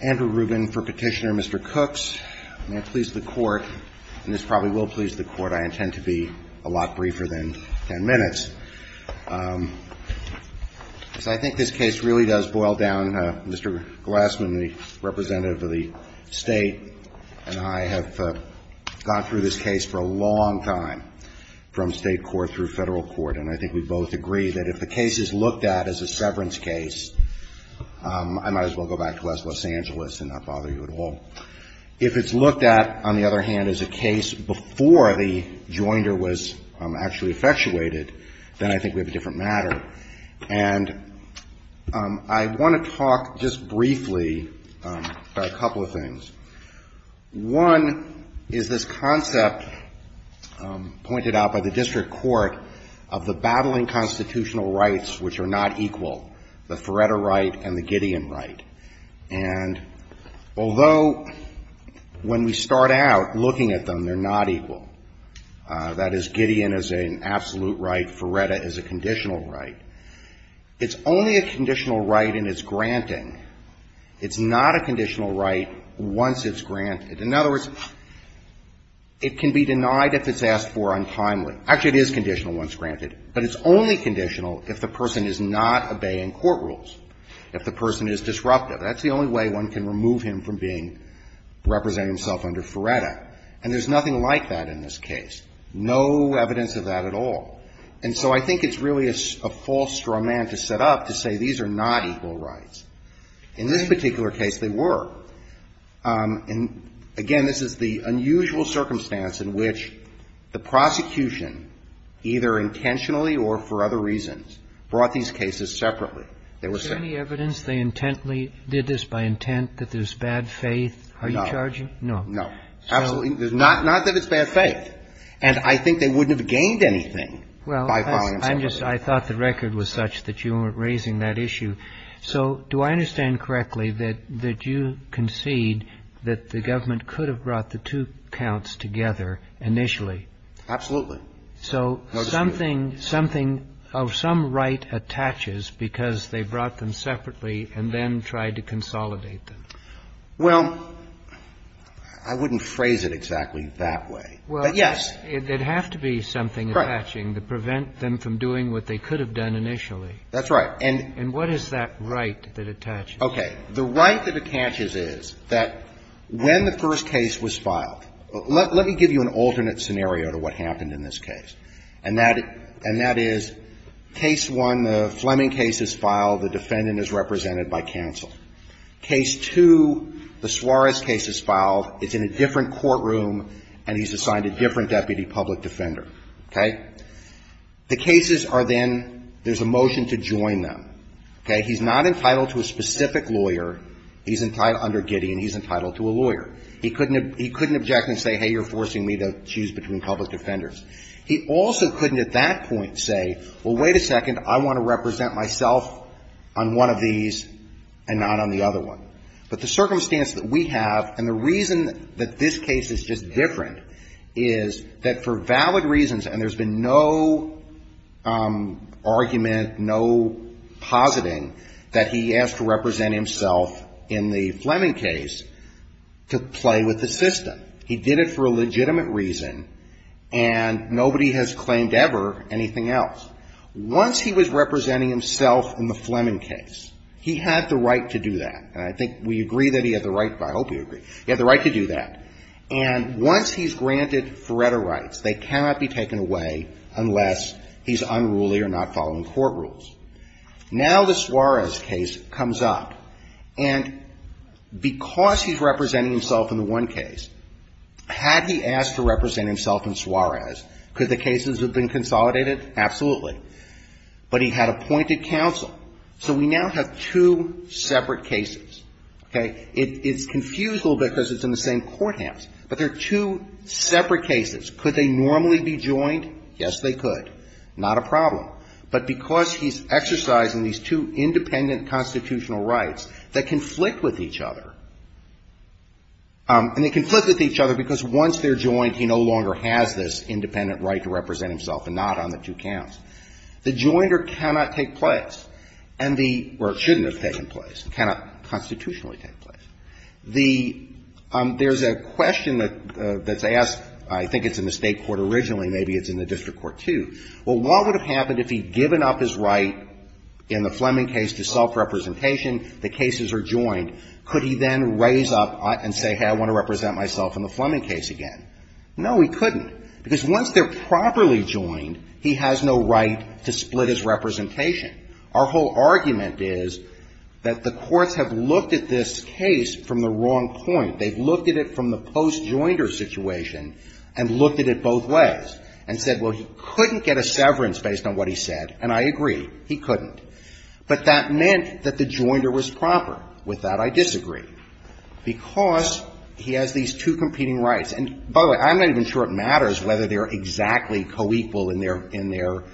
Andrew Rubin for Petitioner. Mr. Cooks, may it please the court, and this probably will please the court, I intend to be a lot briefer than ten minutes. I think this case really does boil down. Mr. Glassman, the representative of the state, and I have gone through this case for a long time, from state court through federal court, and I think we both agree that if the case is looked at as a severance case, I might as well go back to West Los Angeles and not bother you at all. If it's looked at, on the other hand, as a case before the joinder was actually effectuated, then I think we have a different matter. And I want to talk just briefly about a couple of things. One is this concept pointed out by the district court of the battling constitutional rights which are not equal, the Feretta right and the Gideon right. And although when we start out looking at them, they're not equal, that is Gideon is an absolute right, Feretta is a conditional right. It's only a conditional right in its granting. It's not a conditional right once it's granted. In other words, it can be denied if it's asked for untimely. Actually, it is conditional once granted. But it's only conditional if the person is not obeying court rules, if the person is disruptive. That's the only way one can remove him from being representing himself under Feretta. And there's nothing like that in this case, no evidence of that at all. And so I think it's really a false straw man to set up to say these are not equal rights. In this particular case, they were. And, again, this is the unusual circumstance in which the prosecution, either intentionally or for other reasons, brought these cases separately. They were separate. Kennedy. Is there any evidence they intently did this by intent, that there's bad faith? Are you charging? Carvin. No. No. Absolutely not. Not that it's bad faith. And I think they wouldn't have gained anything by filing them separately. Kennedy. Well, I thought the record was such that you weren't raising that issue. So do I understand correctly that you concede that the government could have brought the two counts together initially? Carvin. Absolutely. No dispute. Kennedy. So something of some right attaches because they brought them separately and then tried to consolidate them? Carvin. Well, I wouldn't phrase it exactly that way. But, yes. Kennedy. Well, it'd have to be something attaching to prevent them from doing what they could have done initially. Carvin. That's right. And what is that right that attaches? Carvin. Okay. The right that attaches is that when the first case was filed, let me give you an alternate scenario to what happened in this case. And that is case one, the Fleming case is filed. The defendant is represented by counsel. Case two, the Suarez case is filed. It's in a different courtroom, and he's assigned a different deputy public defender. Okay? The cases are then, there's a motion to join them. Okay? He's not entitled to a specific lawyer. He's entitled under Gideon, he's entitled to a lawyer. He couldn't object and say, hey, you're forcing me to choose between public defenders. He also couldn't at that point say, well, wait a second, I want to represent myself on one of these and not on the other one. But the circumstance that we have and the reason that this case is just different is that for valid reasons, and there's been no argument, no positing that he asked to represent himself in the Fleming case to play with the system. He did it for a legitimate reason, and nobody has claimed ever anything else. Once he was representing himself in the Fleming case, he had the right to do that. And I think we agree that he had the right, I hope you agree, he had the right to do that. And once he's granted Faretta rights, they cannot be taken away unless he's unruly or not following court rules. Now the Suarez case comes up, and because he's representing himself in the one case, had he asked to represent himself in Suarez, could the cases have been consolidated? Absolutely. But he had appointed counsel. So we now have two separate cases, okay? It's confused a little bit because it's in the same courthouse. But they're two separate cases. Could they normally be joined? Yes, they could. Not a problem. But because he's exercising these two independent constitutional rights that conflict with each other, and they conflict with each other because once they're joined, he no longer has this independent right to represent himself and not on the two counts. The joinder cannot take place. Or it shouldn't have taken place. It cannot constitutionally take place. There's a question that's asked. I think it's in the State court originally. Maybe it's in the district court, too. Well, what would have happened if he'd given up his right in the Fleming case to self-representation? The cases are joined. Could he then raise up and say, hey, I want to represent myself in the Fleming case again? No, he couldn't. Because once they're properly joined, he has no right to split his representation. Our whole argument is that the courts have looked at this case from the wrong point. They've looked at it from the post-joinder situation and looked at it both ways and said, well, he couldn't get a severance based on what he said, and I agree, he couldn't. But that meant that the joinder was proper. With that, I disagree. Because he has these two competing rights. And, by the way, I'm not even sure it matters whether they're exactly co-equal in their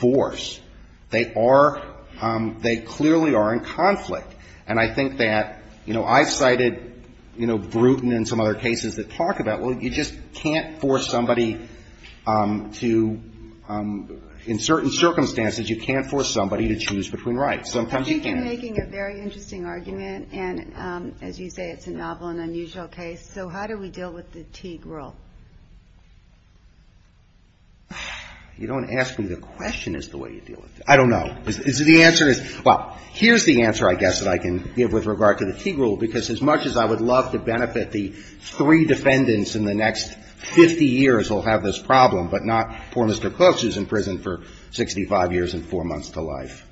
force. They are, they clearly are in conflict. And I think that, you know, I've cited, you know, Bruton and some other cases that talk about, well, you just can't force somebody to, in certain circumstances, you can't force somebody to choose between rights. Sometimes you can. I think you're making a very interesting argument. And, as you say, it's a novel and unusual case. So how do we deal with the Teague rule? You don't ask me the question as to the way you deal with it. I don't know. The answer is, well, here's the answer, I guess, that I can give with regard to the Teague rule, because as much as I would love to benefit the three defendants in the next 50 years who will have this problem, but not poor Mr. Cook, who's in prison for 65 years and four months to life,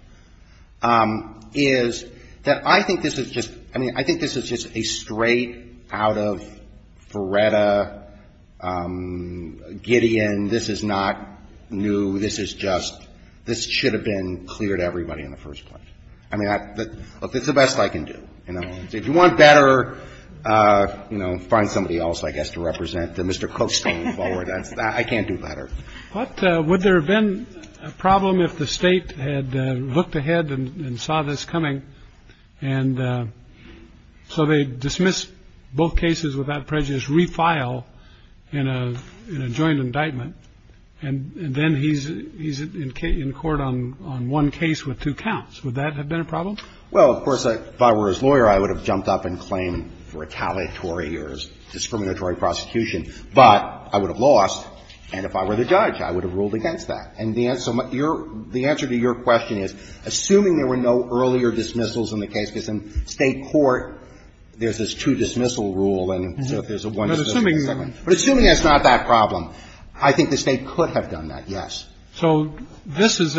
is that I think this is just, a straight out of Feretta, Gideon. This is not new. This is just, this should have been clear to everybody in the first place. I mean, look, it's the best I can do, you know. If you want better, you know, find somebody else, I guess, to represent. Mr. Cook's going forward. I can't do better. But would there have been a problem if the state had looked ahead and saw this coming, and so they dismissed both cases without prejudice, refile in a joint indictment, and then he's in court on one case with two counts. Would that have been a problem? Well, of course, if I were his lawyer, I would have jumped up and claimed retaliatory or discriminatory prosecution. But I would have lost. And if I were the judge, I would have ruled against that. And the answer to your question is, assuming there were no earlier dismissals in the case, because in state court, there's this two-dismissal rule, and so if there's a one- But assuming that's not that problem, I think the state could have done that, yes. So this is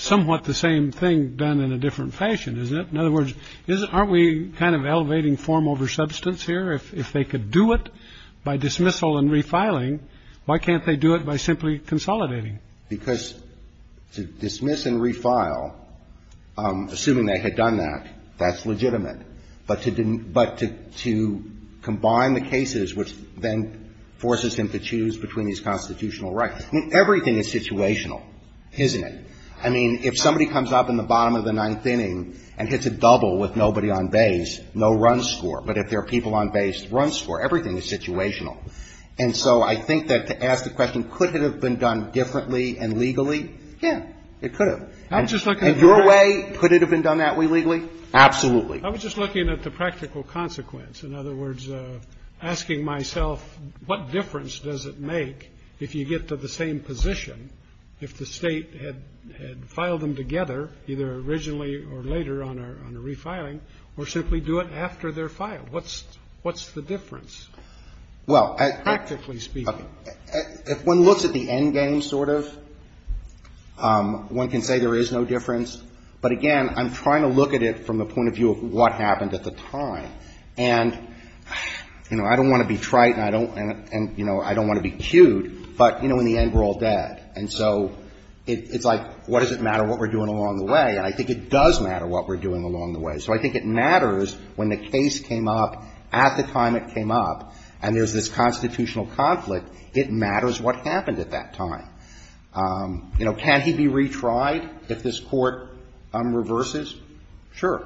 somewhat the same thing done in a different fashion, isn't it? In other words, aren't we kind of elevating form over substance here? If they could do it by dismissal and refiling, why can't they do it by simply consolidating? Because to dismiss and refile, assuming they had done that, that's legitimate. But to combine the cases, which then forces them to choose between these constitutional rights. I mean, everything is situational, isn't it? I mean, if somebody comes up in the bottom of the ninth inning and hits a double with nobody on base, no run score. But if there are people on base, run score. Everything is situational. And so I think that to ask the question, could it have been done differently and legally? Yeah, it could have. In your way, could it have been done that way legally? Absolutely. I was just looking at the practical consequence. In other words, asking myself, what difference does it make if you get to the same position, if the State had filed them together, either originally or later on a refiling, or simply do it after they're filed? What's the difference, practically speaking? Well, if one looks at the end game, sort of, one can say there is no difference. But, again, I'm trying to look at it from the point of view of what happened at the time. And, you know, I don't want to be trite and I don't want to be cute, but, you know, in the end we're all dead. And so it's like, what does it matter what we're doing along the way? And I think it does matter what we're doing along the way. So I think it matters when the case came up at the time it came up and there's this constitutional conflict, it matters what happened at that time. You know, can he be retried if this Court reverses? Sure.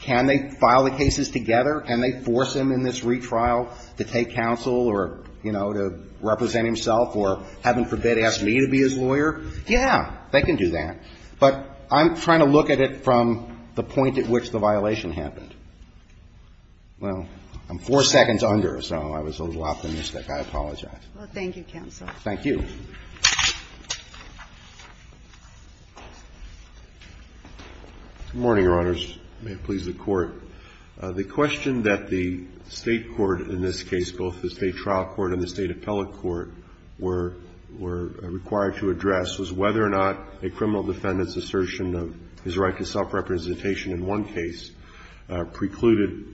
Can they file the cases together? Can they force him in this retrial to take counsel or, you know, to represent himself? Or, heaven forbid, ask me to be his lawyer? Yeah. They can do that. But I'm trying to look at it from the point at which the violation happened. Well, I'm four seconds under, so I was a little optimistic. I apologize. Well, thank you, Counsel. Thank you. Good morning, Your Honors. May it please the Court. The question that the State court in this case, both the State trial court and the State appellate court, were required to address was whether or not a criminal defendant's assertion of his right to self-representation in one case precluded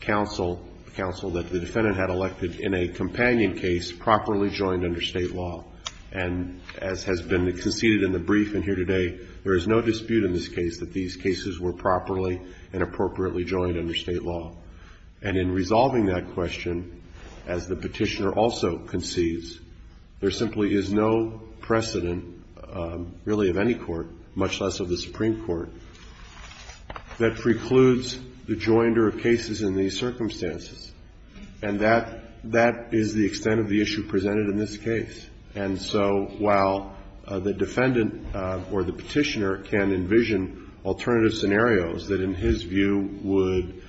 counsel that the defendant had elected in a companion case properly joined under State law. And as has been conceded in the brief in here today, there is no dispute in this case that these cases were properly and appropriately joined under State law. And in resolving that question, as the Petitioner also concedes, there simply is no precedent really of any court, much less of the Supreme Court, that precludes the joinder of cases in these circumstances. And that is the extent of the issue presented in this case. And so while the defendant or the Petitioner can envision alternative scenarios that in his view would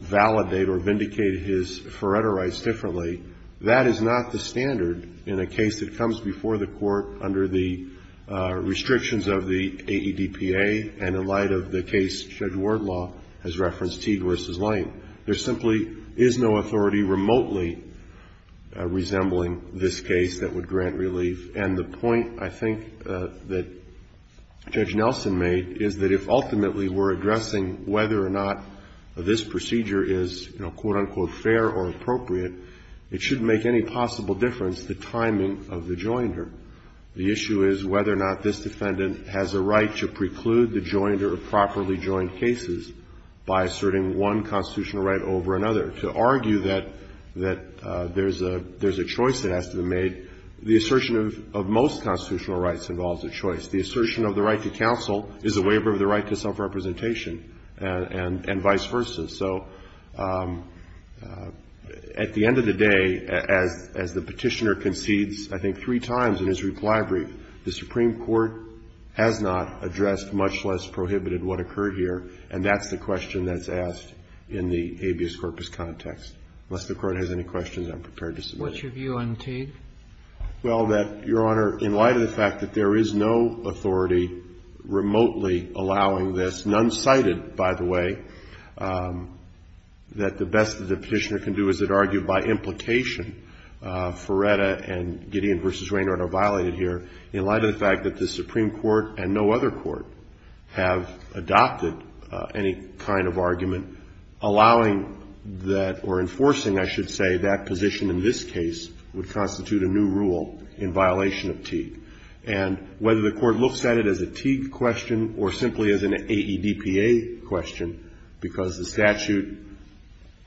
validate or vindicate his Faretta rights differently, that is not the standard in a case that comes before the Court under the restrictions of the AEDPA and in light of the case Judge Wardlaw has referenced, Teague v. Lane. There simply is no authority remotely resembling this case that would grant relief. And the point I think that Judge Nelson made is that if ultimately we're addressing whether or not this procedure is, you know, quote, unquote, fair or appropriate, it shouldn't make any possible difference the timing of the joinder. The issue is whether or not this defendant has a right to preclude the joinder of properly joined cases by asserting one constitutional right over another. To argue that there's a choice that has to be made, the assertion of most constitutional rights involves a choice. The assertion of the right to counsel is a waiver of the right to self-representation and vice versa. So at the end of the day, as the Petitioner concedes I think three times in his reply brief, the Supreme Court has not addressed, much less prohibited, what occurred here, and that's the question that's asked in the habeas corpus context. Unless the Court has any questions, I'm prepared to submit them. What's your view on Teague? Well, that, Your Honor, in light of the fact that there is no authority remotely allowing this, none cited, by the way, that the best that the Petitioner can do is to argue by implication Feretta and Gideon v. Raynard are violated here in light of the fact that the Supreme Court and no other court have adopted any kind of argument allowing that or enforcing, I should say, that position in this case would constitute a new rule in violation of Teague. And whether the Court looks at it as a Teague question or simply as an AEDPA question, because the statute,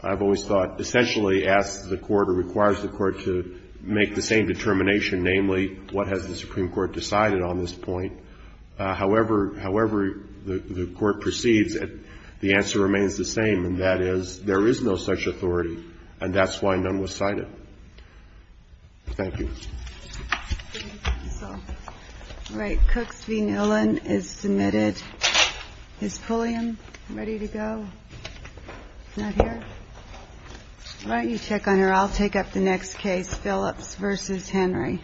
I've always thought, essentially asks the Court or requires the Court to make the same determination, namely what has the Supreme Court decided on this point. However, however the Court proceeds, the answer remains the same, and that is there is no such authority, and that's why none was cited. Thank you. All right. Cooks v. Nolan is submitted. Is Pulliam ready to go? Not here? Why don't you check on her? I'll take up the next case, Phillips v. Henry. Thank you.